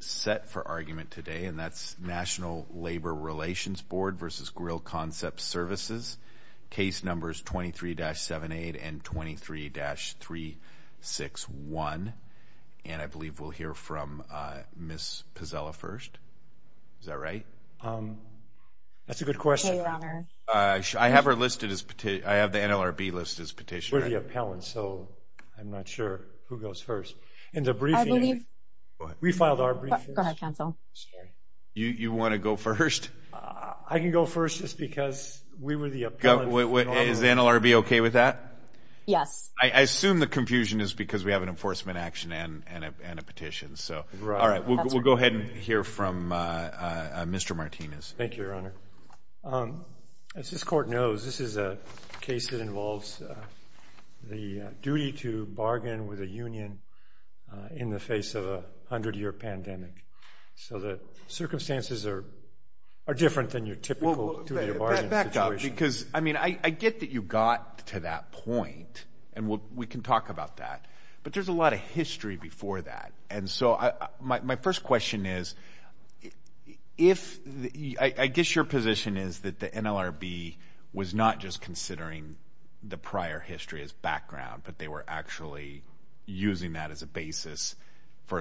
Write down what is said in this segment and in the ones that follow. set for argument today, and that's National Labor Relations Board v. Grill Concepts Services. Case numbers 23-78 and 23-361. And I believe we'll hear from Ms. Pazella first. Is that right? That's a good question. I have her listed as petitioner. I have the NLRB listed as petitioner. We're the appellant, so I'm not sure who goes first. We filed our briefs. Go ahead, counsel. You want to go first? I can go first just because we were the appellant. Is the NLRB okay with that? Yes. I assume the confusion is because we have an enforcement action and a petition. All right, we'll go ahead and hear from Mr. Martinez. Thank you, Your Honor. As this Court knows, this is a case that involves the duty to bargain with a union in the face of a 100-year pandemic. So the circumstances are different than your typical duty to bargain situation. Back up because, I mean, I get that you got to that point, and we can talk about that. But there's a lot of history before that. My first question is, I guess your position is that the NLRB was not just considering the prior history as background, but they were actually using that as a basis for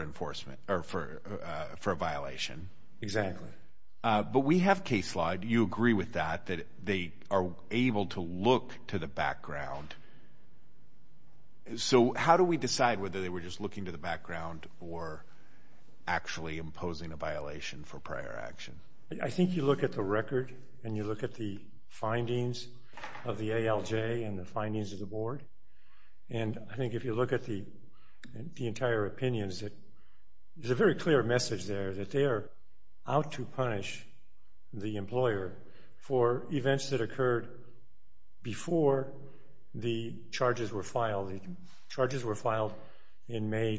a violation. Exactly. But we have case law. Do you agree with that, that they are able to look to the background? So how do we decide whether they were just looking to the background or actually imposing a violation for prior action? I think you look at the record and you look at the findings of the ALJ and the findings of the board. And I think if you look at the entire opinions, there's a very clear message there, that they are out to punish the employer for events that occurred before the charges were filed. The charges were filed in May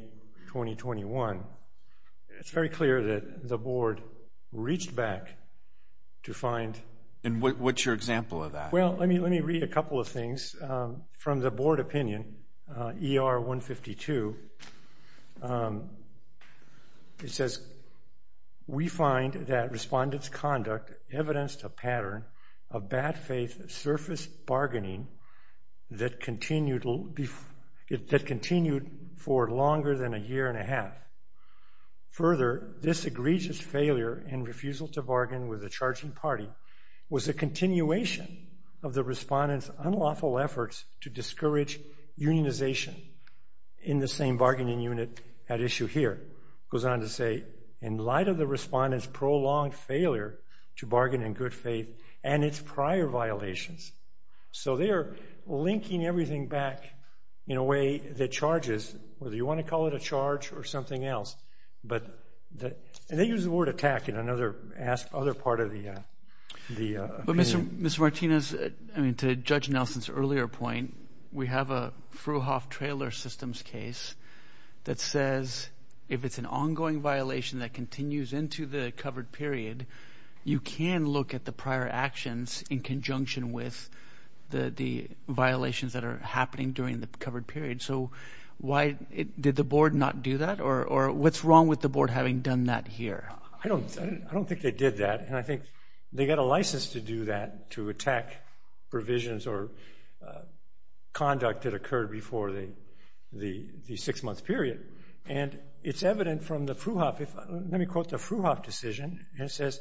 2021. It's very clear that the board reached back to find... And what's your example of that? Well, let me read a couple of things from the board opinion, ER 152. It says, we find that respondents' conduct evidenced a pattern of bad faith surface bargaining that continued for longer than a year and a half. Further, this egregious failure and refusal to bargain with the charging party was a continuation of the respondents' unlawful efforts to discourage unionization in the same bargaining unit at issue here. It goes on to say, in light of the respondents' prolonged failure to bargain in good faith and its prior violations. So they are linking everything back in a way that charges, whether you want to call it a charge or something else, but they use the word attack in another part of the opinion. But Mr. Martinez, I mean, to Judge Nelson's earlier point, we have a Frouhoff Trailer Systems case that says, if it's an ongoing violation that continues into the covered period, you can look at the prior actions in conjunction with the violations that are happening during the covered period. So why did the board not do that, or what's wrong with the board having done that here? I don't think they did that. And I think they got a license to do that, to attack provisions or conduct that occurred before the six-month period. And it's evident from the Frouhoff, let me quote the Frouhoff decision, and it says,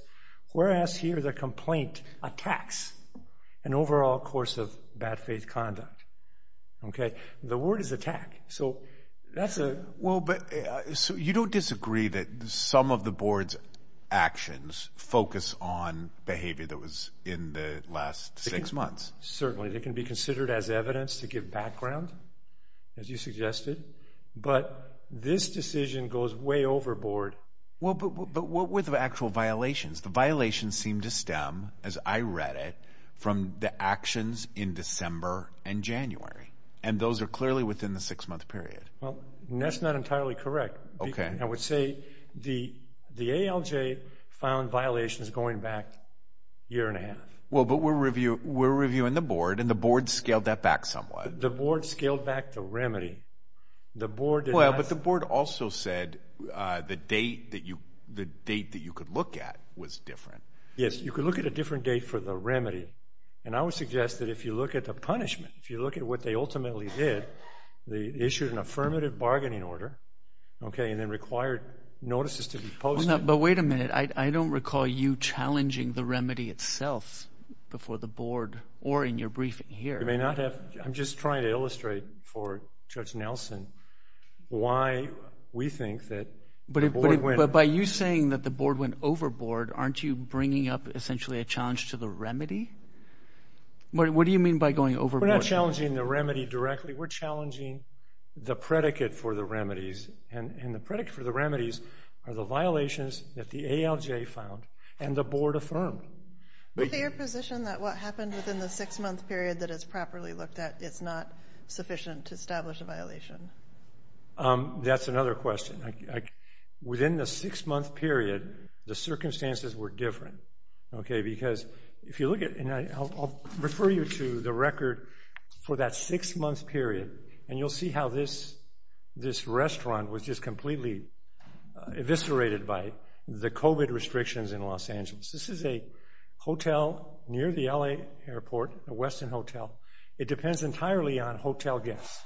whereas here the complaint attacks an overall course of bad faith conduct. The word is attack. Well, but you don't disagree that some of the board's actions focus on behavior that was in the last six months? Certainly. They can be considered as evidence to give background, as you suggested. But this decision goes way overboard. Well, but what were the actual violations? The violations seem to stem, as I read it, from the actions in December and January. And those are clearly within the six-month period. Well, that's not entirely correct. Okay. I would say the ALJ found violations going back a year and a half. Well, but we're reviewing the board, and the board scaled that back somewhat. The board scaled back the remedy. Well, but the board also said the date that you could look at was different. Yes, you could look at a different date for the remedy. And I would suggest that if you look at the punishment, if you look at what they ultimately did, they issued an affirmative bargaining order, okay, and then required notices to be posted. But wait a minute. I don't recall you challenging the remedy itself before the board or in your briefing here. You may not have. I'm just trying to illustrate for Judge Nelson why we think that the board went. aren't you bringing up essentially a challenge to the remedy? What do you mean by going overboard? We're not challenging the remedy directly. We're challenging the predicate for the remedies, and the predicate for the remedies are the violations that the ALJ found and the board affirmed. Is it your position that what happened within the six-month period that is properly looked at is not sufficient to establish a violation? That's another question. Within the six-month period, the circumstances were different, okay, because if you look at it, and I'll refer you to the record for that six-month period, and you'll see how this restaurant was just completely eviscerated by the COVID restrictions in Los Angeles. This is a hotel near the L.A. airport, the Westin Hotel. It depends entirely on hotel guests.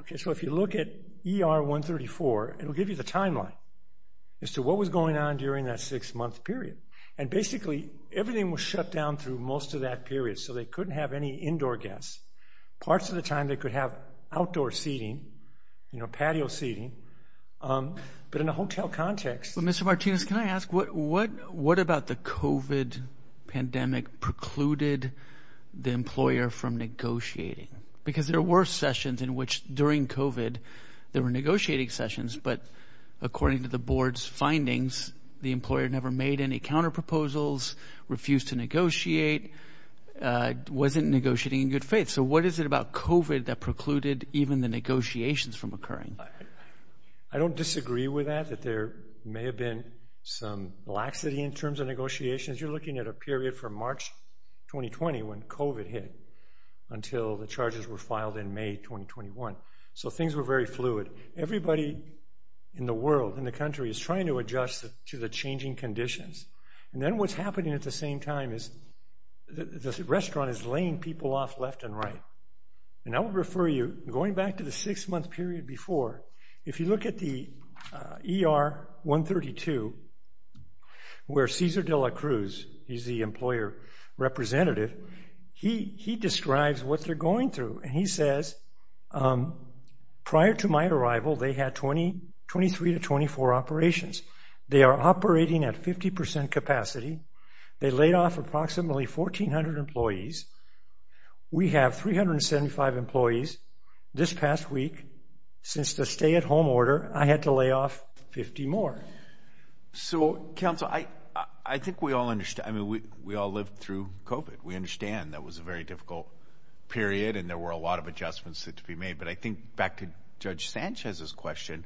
Okay, so if you look at ER 134, it'll give you the timeline as to what was going on during that six-month period, and basically everything was shut down through most of that period, so they couldn't have any indoor guests. Parts of the time they could have outdoor seating, you know, patio seating, but in a hotel context. Well, Mr. Martinez, can I ask, what about the COVID pandemic precluded the employer from negotiating? Because there were sessions in which, during COVID, there were negotiating sessions, but according to the board's findings, the employer never made any counterproposals, refused to negotiate, wasn't negotiating in good faith. So what is it about COVID that precluded even the negotiations from occurring? I don't disagree with that, that there may have been some laxity in terms of negotiations. You're looking at a period from March 2020 when COVID hit until the charges were filed in May 2021. So things were very fluid. Everybody in the world, in the country, is trying to adjust to the changing conditions, and then what's happening at the same time is the restaurant is laying people off left and right. And I would refer you, going back to the six-month period before, if you look at the ER 132, where Cesar de la Cruz, he's the employer representative, he describes what they're going through, and he says, prior to my arrival, they had 23 to 24 operations. They are operating at 50 percent capacity. They laid off approximately 1,400 employees. We have 375 employees. This past week, since the stay-at-home order, I had to lay off 50 more. So, counsel, I think we all understand. I mean, we all lived through COVID. We understand that was a very difficult period, and there were a lot of adjustments that had to be made. But I think, back to Judge Sanchez's question,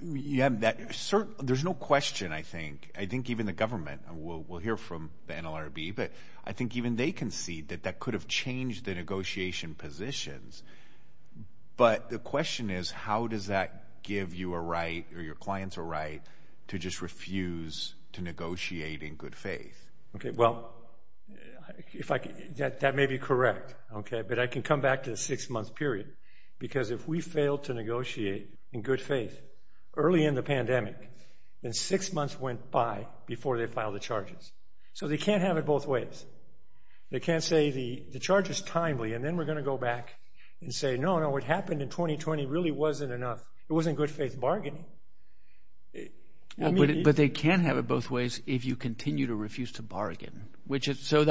there's no question, I think, I think even the government, and we'll hear from the NLRB, but I think even they can see that that could have changed the negotiation positions. But the question is, how does that give you a right or your clients a right to just refuse to negotiate in good faith? Okay, well, that may be correct, okay, but I can come back to the six-month period, because if we fail to negotiate in good faith early in the pandemic, then six months went by before they filed the charges. So they can't have it both ways. They can't say, the charge is timely, and then we're going to go back and say, no, no, what happened in 2020 really wasn't enough. It wasn't good faith bargaining. But they can have it both ways if you continue to refuse to bargain. So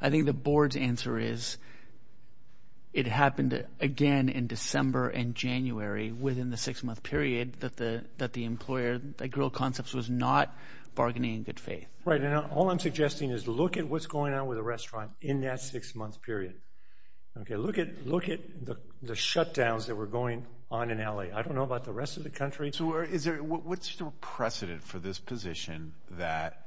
I think the board's answer is it happened again in December and January within the six-month period that the employer, that Grill Concepts, was not bargaining in good faith. Right, and all I'm suggesting is look at what's going on with a restaurant in that six-month period. Okay, look at the shutdowns that were going on in L.A. I don't know about the rest of the country. So what's the precedent for this position that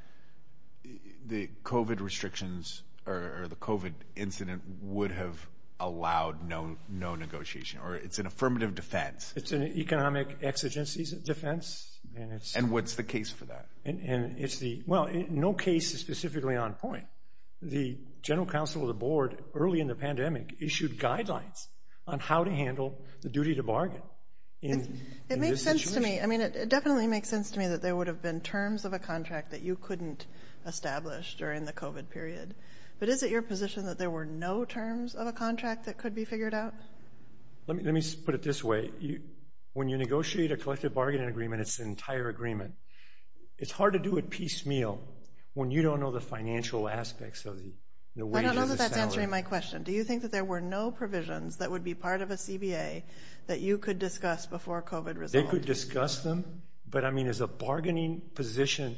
the COVID restrictions or the COVID incident would have allowed no negotiation, or it's an affirmative defense? It's an economic exigencies defense. And what's the case for that? Well, no case is specifically on point. The general counsel of the board early in the pandemic issued guidelines on how to handle the duty to bargain in this situation. It makes sense to me. I mean, it definitely makes sense to me that there would have been terms of a contract that you couldn't establish during the COVID period. But is it your position that there were no terms of a contract that could be figured out? Let me put it this way. When you negotiate a collective bargaining agreement, it's an entire agreement. It's hard to do it piecemeal when you don't know the financial aspects of the wage and the salary. I don't know that that's answering my question. Do you think that there were no provisions that would be part of a CBA that you could discuss before COVID resolved? They could discuss them. But, I mean, as a bargaining position,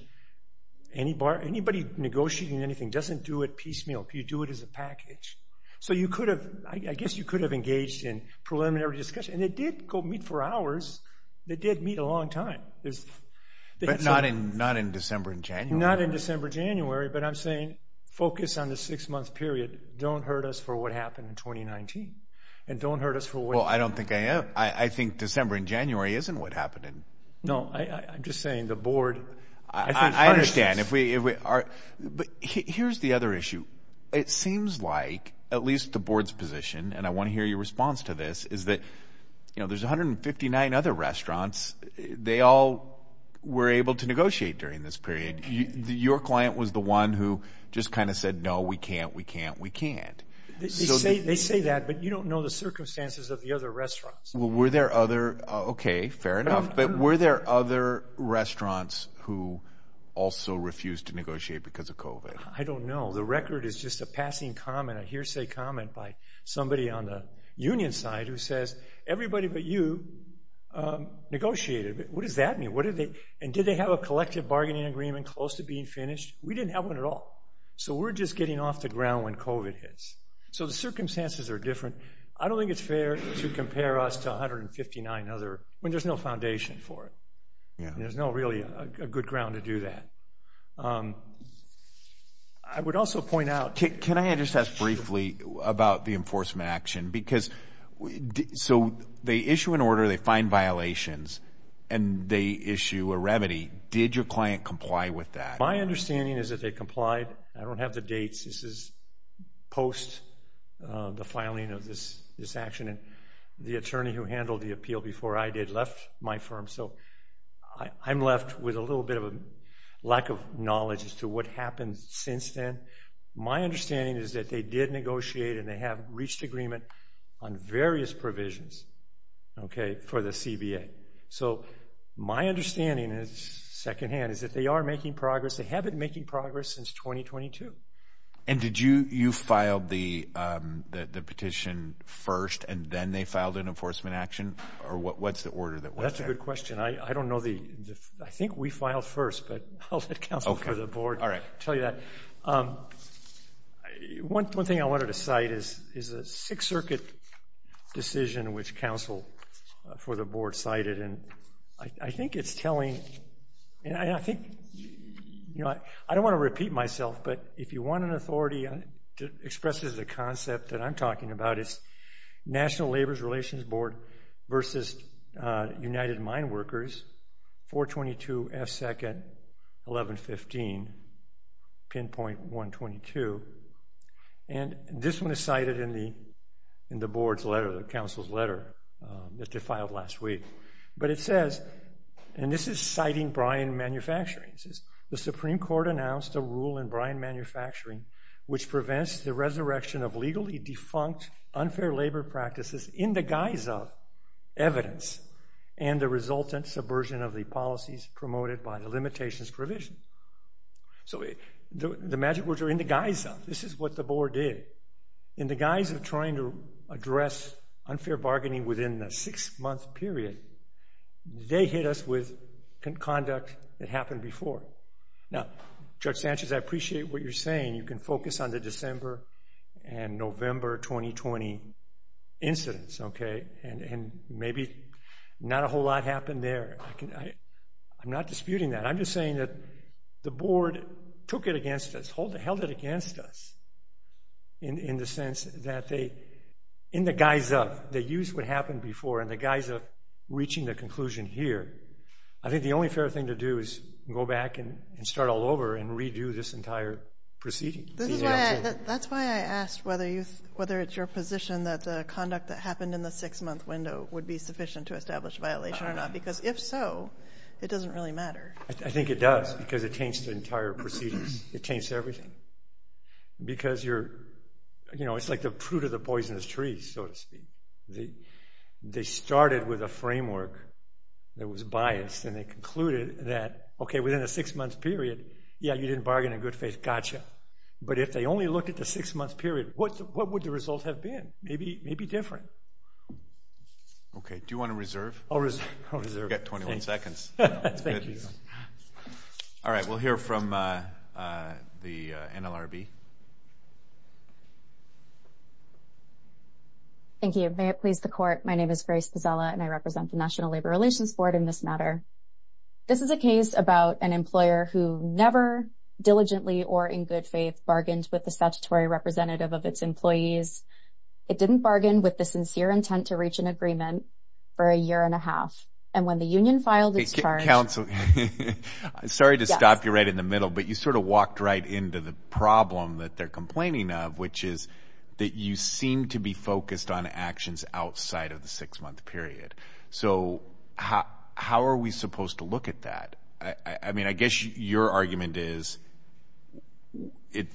anybody negotiating anything doesn't do it piecemeal. You do it as a package. So I guess you could have engaged in preliminary discussion. And they did go meet for hours. They did meet a long time. But not in December and January. Not in December, January. But I'm saying focus on the six-month period. Don't hurt us for what happened in 2019. And don't hurt us for what happened. Well, I don't think I am. I think December and January isn't what happened. No, I'm just saying the board. I understand. But here's the other issue. It seems like, at least the board's position, and I want to hear your response to this, is that, you know, there's 159 other restaurants. They all were able to negotiate during this period. Your client was the one who just kind of said, no, we can't, we can't, we can't. They say that, but you don't know the circumstances of the other restaurants. Were there other, okay, fair enough. But were there other restaurants who also refused to negotiate because of COVID? I don't know. The record is just a passing comment, a hearsay comment by somebody on the union side who says, everybody but you negotiated. What does that mean? And did they have a collective bargaining agreement close to being finished? We didn't have one at all. So we're just getting off the ground when COVID hits. So the circumstances are different. I don't think it's fair to compare us to 159 other, when there's no foundation for it. There's no really good ground to do that. I would also point out. Can I just ask briefly about the enforcement action? Because so they issue an order, they find violations, and they issue a remedy. Did your client comply with that? My understanding is that they complied. I don't have the dates. This is post the filing of this action. And the attorney who handled the appeal before I did left my firm. So I'm left with a little bit of a lack of knowledge as to what happened since then. My understanding is that they did negotiate and they have reached agreement on various provisions for the CBA. So my understanding is, secondhand, is that they are making progress. They have been making progress since 2022. And did you file the petition first and then they filed an enforcement action? Or what's the order? That's a good question. I don't know. I think we filed first, but I'll let counsel for the board tell you that. One thing I wanted to cite is a Sixth Circuit decision, which counsel for the board cited. I think it's telling, and I think, you know, I don't want to repeat myself, but if you want an authority to express the concept that I'm talking about, it's National Labor Relations Board versus United Mine Workers, 422 F. 2nd, 1115, pinpoint 122. And this one is cited in the board's letter, the counsel's letter that they filed last week. But it says, and this is citing Bryan Manufacturing, it says, the Supreme Court announced a rule in Bryan Manufacturing which prevents the resurrection of legally defunct unfair labor practices in the guise of evidence and the resultant subversion of the policies promoted by the limitations provision. So the magic words are in the guise of. This is what the board did. In the guise of trying to address unfair bargaining within the six-month period, they hit us with conduct that happened before. Now, Judge Sanchez, I appreciate what you're saying. You can focus on the December and November 2020 incidents, okay, and maybe not a whole lot happened there. I'm not disputing that. I'm just saying that the board took it against us, held it against us in the sense that they, in the guise of they used what happened before in the guise of reaching the conclusion here. I think the only fair thing to do is go back and start all over and redo this entire proceeding. That's why I asked whether it's your position that the conduct that happened in the six-month window would be sufficient to establish a violation or not because if so, it doesn't really matter. I think it does because it changed the entire proceedings. It changed everything because you're, you know, it's like the fruit of the poisonous tree, so to speak. They started with a framework that was biased, and they concluded that, okay, within a six-month period, yeah, you didn't bargain in good faith. Gotcha. But if they only looked at the six-month period, what would the result have been? Maybe different. Okay. Do you want to reserve? I'll reserve. You've got 21 seconds. Thank you. All right. We'll hear from the NLRB. Thank you. May it please the Court, my name is Grace Pazella, and I represent the National Labor Relations Board in this matter. This is a case about an employer who never diligently or in good faith bargained with the statutory representative of its employees. It didn't bargain with the sincere intent to reach an agreement for a year and a half, and when the union filed its charge... Counsel, sorry to stop you right in the middle, but you sort of walked right into the problem that they're complaining of, which is that you seem to be focused on actions outside of the six-month period. So how are we supposed to look at that? I mean, I guess your argument is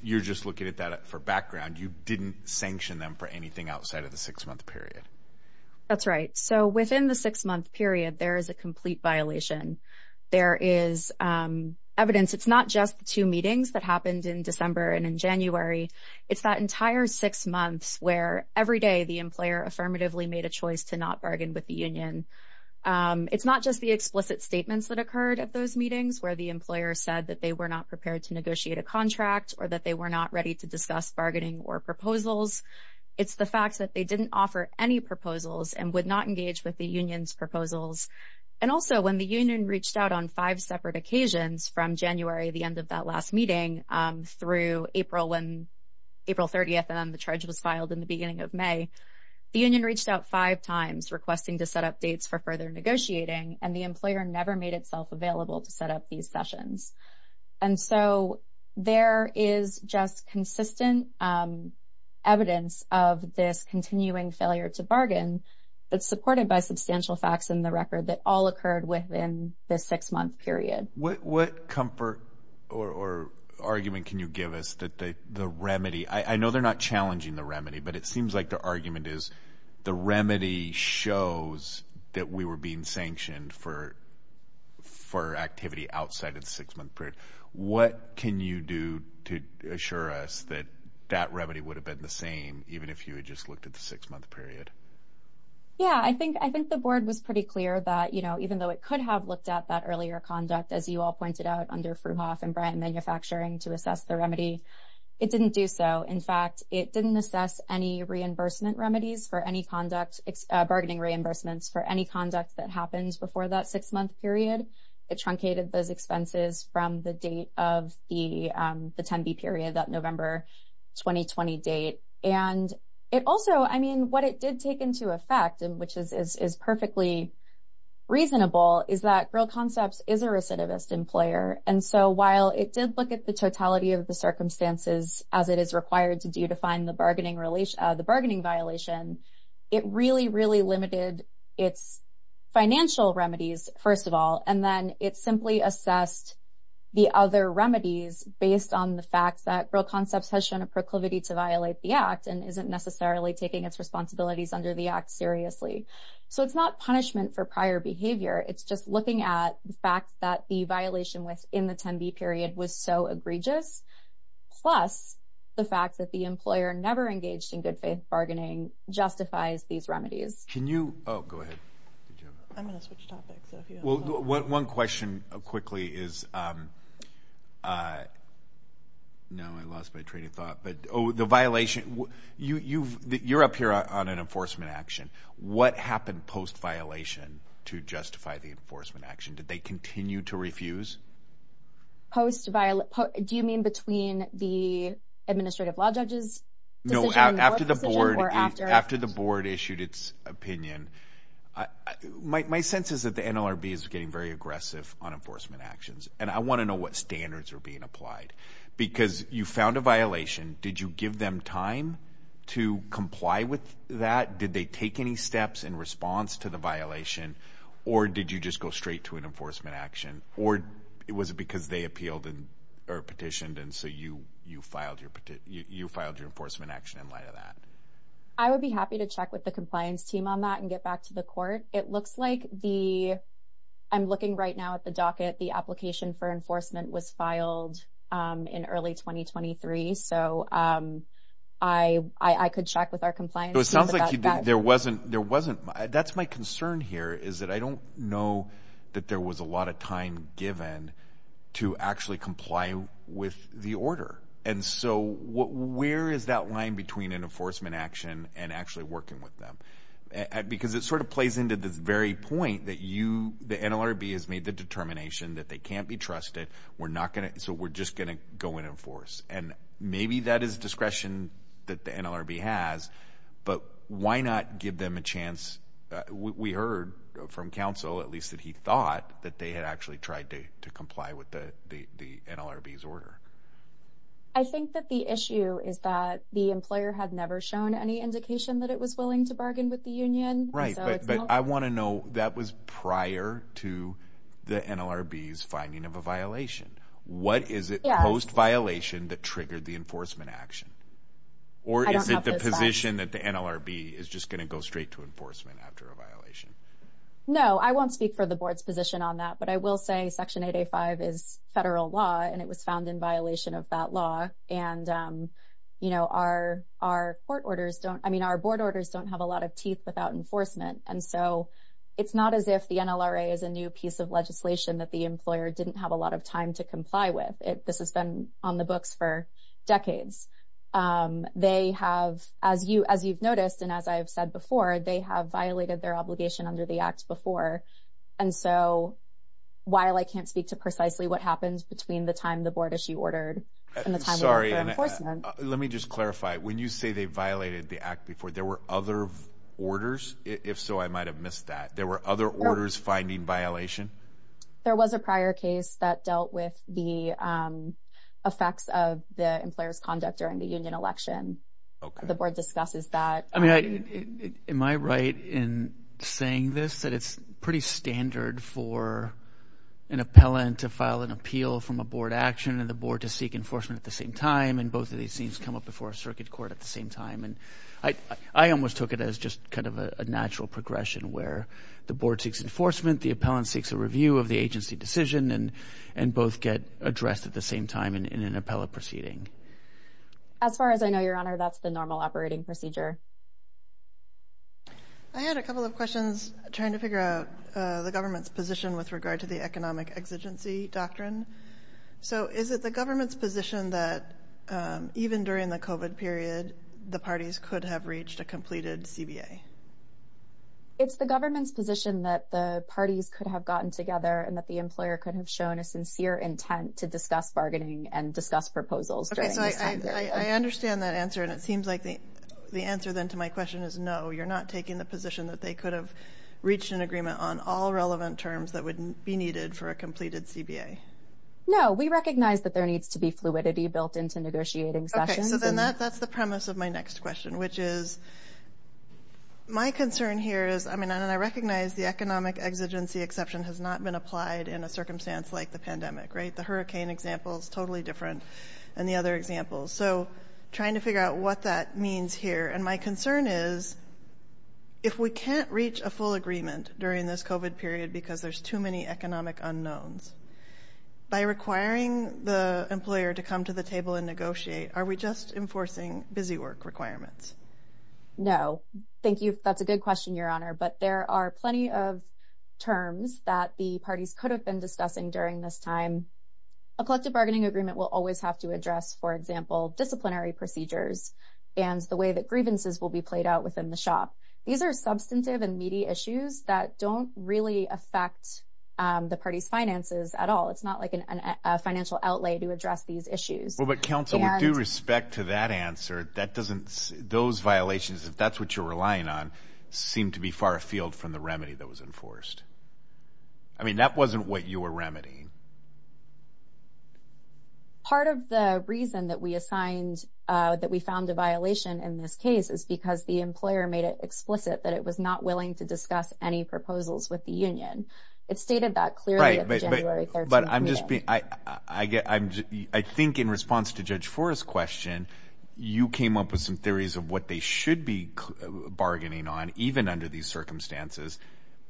you're just looking at that for background. You didn't sanction them for anything outside of the six-month period. That's right. So within the six-month period, there is a complete violation. There is evidence. It's not just the two meetings that happened in December and in January. It's that entire six months where every day the employer affirmatively made a choice to not bargain with the union. It's not just the explicit statements that occurred at those meetings where the employer said that they were not prepared to negotiate a contract or that they were not ready to discuss bargaining or proposals. It's the fact that they didn't offer any proposals and would not engage with the union's proposals. And also, when the union reached out on five separate occasions from January, the end of that last meeting, through April 30th and then the charge was filed in the beginning of May, the union reached out five times requesting to set up dates for further negotiating, and the employer never made itself available to set up these sessions. And so there is just consistent evidence of this continuing failure to bargain. It's supported by substantial facts in the record that all occurred within the six-month period. What comfort or argument can you give us that the remedy – I know they're not challenging the remedy, but it seems like the argument is the remedy shows that we were being sanctioned for activity outside of the six-month period. What can you do to assure us that that remedy would have been the same even if you had just looked at the six-month period? Yeah, I think the board was pretty clear that, you know, even though it could have looked at that earlier conduct, as you all pointed out, under Fruhoff and Bryan Manufacturing to assess the remedy, it didn't do so. In fact, it didn't assess any reimbursement remedies for any conduct – bargaining reimbursements for any conduct that happened before that six-month period. It truncated those expenses from the date of the 10B period, that November 2020 date. And it also – I mean, what it did take into effect, which is perfectly reasonable, is that Grill Concepts is a recidivist employer. And so while it did look at the totality of the circumstances as it is required to do to find the bargaining violation, it really, really limited its financial remedies, first of all, and then it simply assessed the other remedies based on the fact that Grill Concepts has shown a proclivity to violate the Act and isn't necessarily taking its responsibilities under the Act seriously. So it's not punishment for prior behavior. It's just looking at the fact that the violation in the 10B period was so egregious, plus the fact that the employer never engaged in good-faith bargaining justifies these remedies. Can you – oh, go ahead. I'm going to switch topics. Well, one question quickly is – no, I lost my train of thought. The violation – you're up here on an enforcement action. What happened post-violation to justify the enforcement action? Did they continue to refuse? Post-violation? Do you mean between the administrative law judge's decision? No, after the board issued its opinion. My sense is that the NLRB is getting very aggressive on enforcement actions, and I want to know what standards are being applied because you found a violation. Did you give them time to comply with that? Did they take any steps in response to the violation, or did you just go straight to an enforcement action? Or was it because they appealed or petitioned, and so you filed your enforcement action in light of that? I would be happy to check with the compliance team on that and get back to the court. It looks like the – I'm looking right now at the docket. The application for enforcement was filed in early 2023, so I could check with our compliance team about that. It sounds like there wasn't – that's my concern here, is that I don't know that there was a lot of time given to actually comply with the order. And so where is that line between an enforcement action and actually working with them? Because it sort of plays into the very point that you – the NLRB has made the determination that they can't be trusted. We're not going to – so we're just going to go in and enforce. And maybe that is discretion that the NLRB has, but why not give them a chance? We heard from counsel, at least that he thought, that they had actually tried to comply with the NLRB's order. I think that the issue is that the employer had never shown any indication that it was willing to bargain with the union. Right, but I want to know, that was prior to the NLRB's finding of a violation. What is it post-violation that triggered the enforcement action? Or is it the position that the NLRB is just going to go straight to enforcement after a violation? No, I won't speak for the board's position on that, but I will say Section 8A.5 is federal law, and it was found in violation of that law. And, you know, our court orders don't – I mean, our board orders don't have a lot of teeth without enforcement. And so it's not as if the NLRA is a new piece of legislation that the employer didn't have a lot of time to comply with. This has been on the books for decades. They have – as you've noticed, and as I've said before, they have violated their obligation under the Act before. And so while I can't speak to precisely what happened between the time the board issue ordered and the time we went for enforcement – Sorry, let me just clarify. When you say they violated the Act before, there were other orders? If so, I might have missed that. There were other orders finding violation? There was a prior case that dealt with the effects of the employer's conduct during the union election. The board discusses that. I mean, am I right in saying this, that it's pretty standard for an appellant to file an appeal from a board action and the board to seek enforcement at the same time, and both of these things come up before a circuit court at the same time? And I almost took it as just kind of a natural progression where the board seeks enforcement, the appellant seeks a review of the agency decision, and both get addressed at the same time in an appellate proceeding. As far as I know, Your Honor, that's the normal operating procedure. I had a couple of questions trying to figure out the government's position with regard to the economic exigency doctrine. So is it the government's position that even during the COVID period, the parties could have reached a completed CBA? It's the government's position that the parties could have gotten together and that the employer could have shown a sincere intent to discuss bargaining and discuss proposals during this time period. Okay, so I understand that answer, and it seems like the answer then to my question is no, you're not taking the position that they could have reached an agreement on all relevant terms that would be needed for a completed CBA. No, we recognize that there needs to be fluidity built into negotiating sessions. Okay, so then that's the premise of my next question, which is my concern here is, I mean, it's not applied in a circumstance like the pandemic, right? The hurricane example is totally different than the other examples. So trying to figure out what that means here. And my concern is if we can't reach a full agreement during this COVID period because there's too many economic unknowns, by requiring the employer to come to the table and negotiate, are we just enforcing busy work requirements? No, thank you. That's a good question, Your Honor. But there are plenty of terms that the parties could have been discussing during this time. A collective bargaining agreement will always have to address, for example, disciplinary procedures and the way that grievances will be played out within the shop. These are substantive and meaty issues that don't really affect the party's finances at all. It's not like a financial outlay to address these issues. Well, but counsel, with due respect to that answer, those violations, if that's what you're relying on, seem to be far afield from the remedy that was enforced. I mean, that wasn't what you were remedying. Part of the reason that we found a violation in this case is because the employer made it explicit that it was not willing to discuss any proposals with the union. It stated that clearly at the January 13th meeting. But I'm just being – I think in response to Judge Forrest's question, you came up with some theories of what they should be bargaining on even under these circumstances.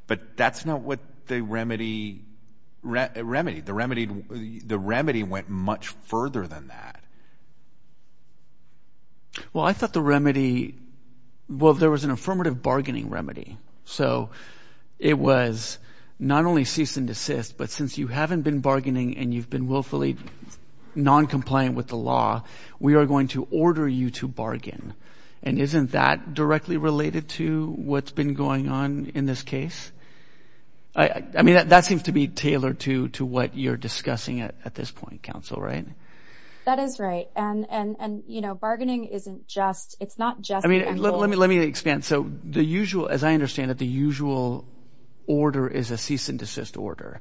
But that's not what the remedy – the remedy went much further than that. Well, I thought the remedy – well, there was an affirmative bargaining remedy. So it was not only cease and desist, but since you haven't been bargaining and you've been willfully noncompliant with the law, we are going to order you to bargain. And isn't that directly related to what's been going on in this case? I mean that seems to be tailored to what you're discussing at this point, counsel, right? That is right. And bargaining isn't just – it's not just – I mean let me expand. So the usual – as I understand it, the usual order is a cease and desist order.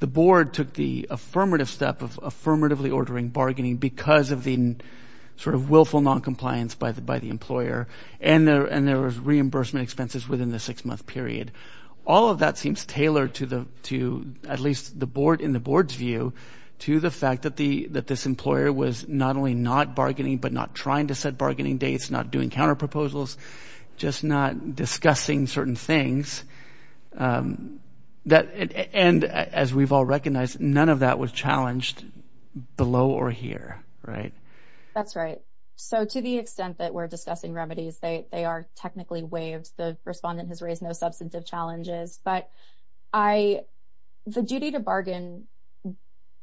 The board took the affirmative step of affirmatively ordering bargaining because of the sort of willful noncompliance by the employer. And there was reimbursement expenses within the six-month period. All of that seems tailored to at least the board – in the board's view to the fact that this employer was not only not bargaining but not trying to set bargaining dates, not doing counterproposals, just not discussing certain things. And as we've all recognized, none of that was challenged below or here, right? That's right. So to the extent that we're discussing remedies, they are technically waived. The respondent has raised no substantive challenges, but the duty to bargain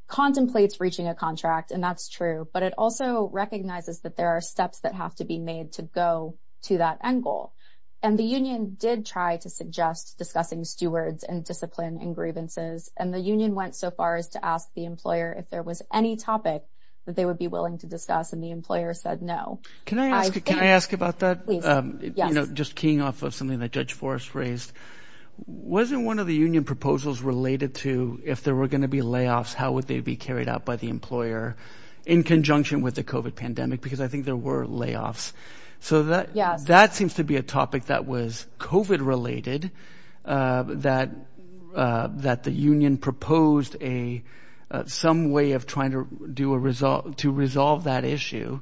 contemplates reaching a contract, and that's true. But it also recognizes that there are steps that have to be made to go to that end goal. And the union did try to suggest discussing stewards and discipline and grievances, and the union went so far as to ask the employer if there was any topic that they would be willing to discuss, and the employer said no. Can I ask about that? Please, yes. Just keying off of something that Judge Forrest raised, wasn't one of the union proposals related to if there were going to be layoffs, how would they be carried out by the employer in conjunction with the COVID pandemic? Because I think there were layoffs. So that seems to be a topic that was COVID-related, that the union proposed some way of trying to resolve that issue.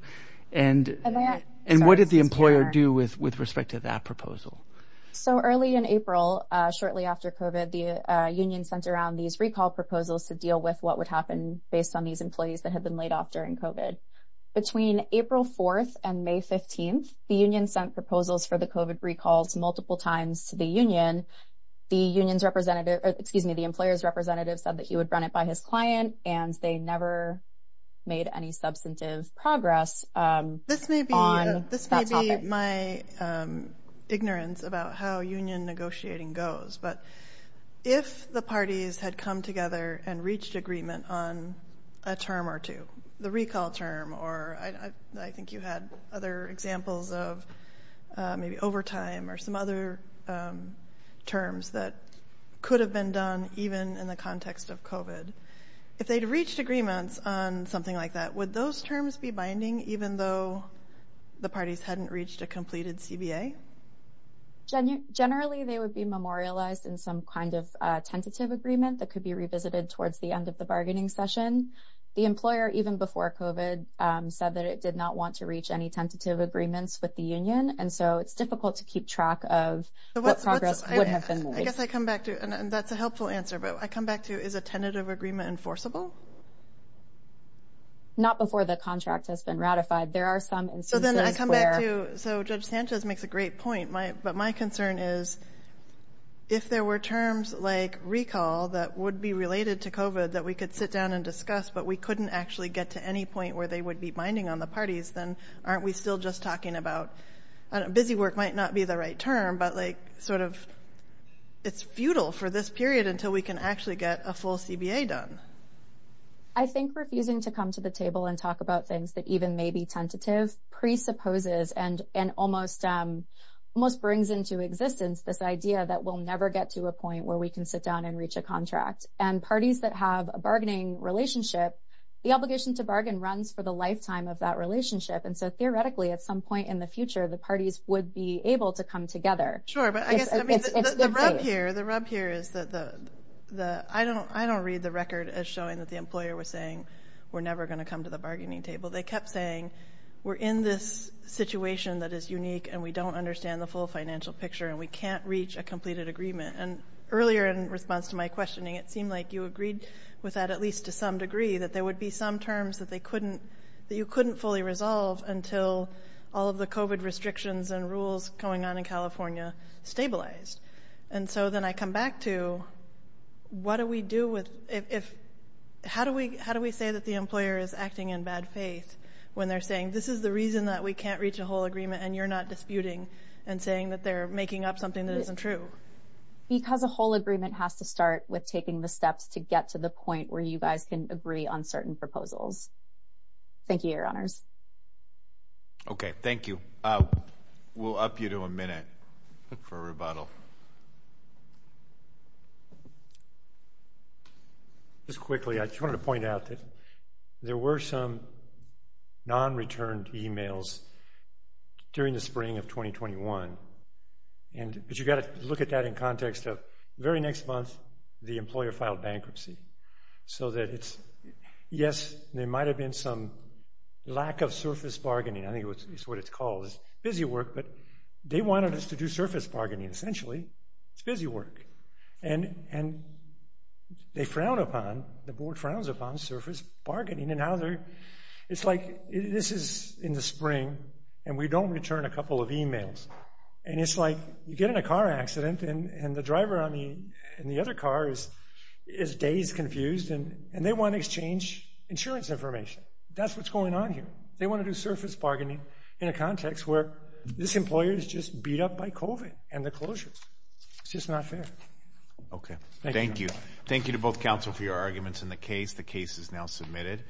And what did the employer do with respect to that proposal? So early in April, shortly after COVID, the union sent around these recall proposals to deal with what would happen based on these employees that had been laid off during COVID. Between April 4th and May 15th, the union sent proposals for the COVID recalls multiple times to the union. The employer's representative said that he would run it by his client, and they never made any substantive progress on that topic. My ignorance about how union negotiating goes, but if the parties had come together and reached agreement on a term or two, the recall term, or I think you had other examples of maybe overtime or some other terms that could have been done even in the context of COVID, if they'd reached agreements on something like that, would those terms be binding even though the parties hadn't reached a completed CBA? Generally, they would be memorialized in some kind of tentative agreement that could be revisited towards the end of the bargaining session. The employer, even before COVID, said that it did not want to reach any tentative agreements with the union, and so it's difficult to keep track of what progress would have been made. I guess I come back to, and that's a helpful answer, but I come back to, is a tentative agreement enforceable? Not before the contract has been ratified. There are some instances where... So then I come back to, so Judge Sanchez makes a great point, but my concern is, if there were terms like recall that would be related to COVID that we could sit down and discuss, but we couldn't actually get to any point where they would be binding on the parties, then aren't we still just talking about... Busy work might not be the right term, but it's futile for this period until we can actually get a full CBA done. I think refusing to come to the table and talk about things that even may be tentative presupposes and almost brings into existence this idea that we'll never get to a point where we can sit down and reach a contract. And parties that have a bargaining relationship, the obligation to bargain runs for the lifetime of that relationship. And so theoretically, at some point in the future, the parties would be able to come together. Sure, but I guess the rub here is that I don't read the record as showing that the employer was saying, we're never going to come to the bargaining table. They kept saying, we're in this situation that is unique and we don't understand the full financial picture and we can't reach a completed agreement. And earlier in response to my questioning, it seemed like you agreed with that, at least to some degree, that there would be some terms that you couldn't fully resolve until all of the COVID restrictions and rules going on in California stabilized. And so then I come back to, how do we say that the employer is acting in bad faith when they're saying, this is the reason that we can't reach a whole agreement and you're not disputing and saying that they're making up something that isn't true? Because a whole agreement has to start with taking the steps to get to the point where you guys can agree on certain proposals. Thank you, Your Honors. Okay, thank you. We'll up you to a minute for a rebuttal. Just quickly, I just wanted to point out that there were some non-returned emails during the spring of 2021. But you've got to look at that in context of the very next month, the employer filed bankruptcy. So that it's, yes, there might have been some lack of surface bargaining. I think it's what it's called, it's busy work, but they wanted us to do surface bargaining, essentially, it's busy work. And they frown upon, the board frowns upon surface bargaining. And now they're, it's like, this is in the spring, and we don't return a couple of emails. And it's like, you get in a car accident and the driver in the other car is dazed, confused, and they want to exchange insurance information. That's what's going on here. They want to do surface bargaining in a context where this employer is just beat up by COVID and the closures. It's just not fair. Okay. Thank you. Thank you to both counsel for your arguments in the case. The case is now submitted.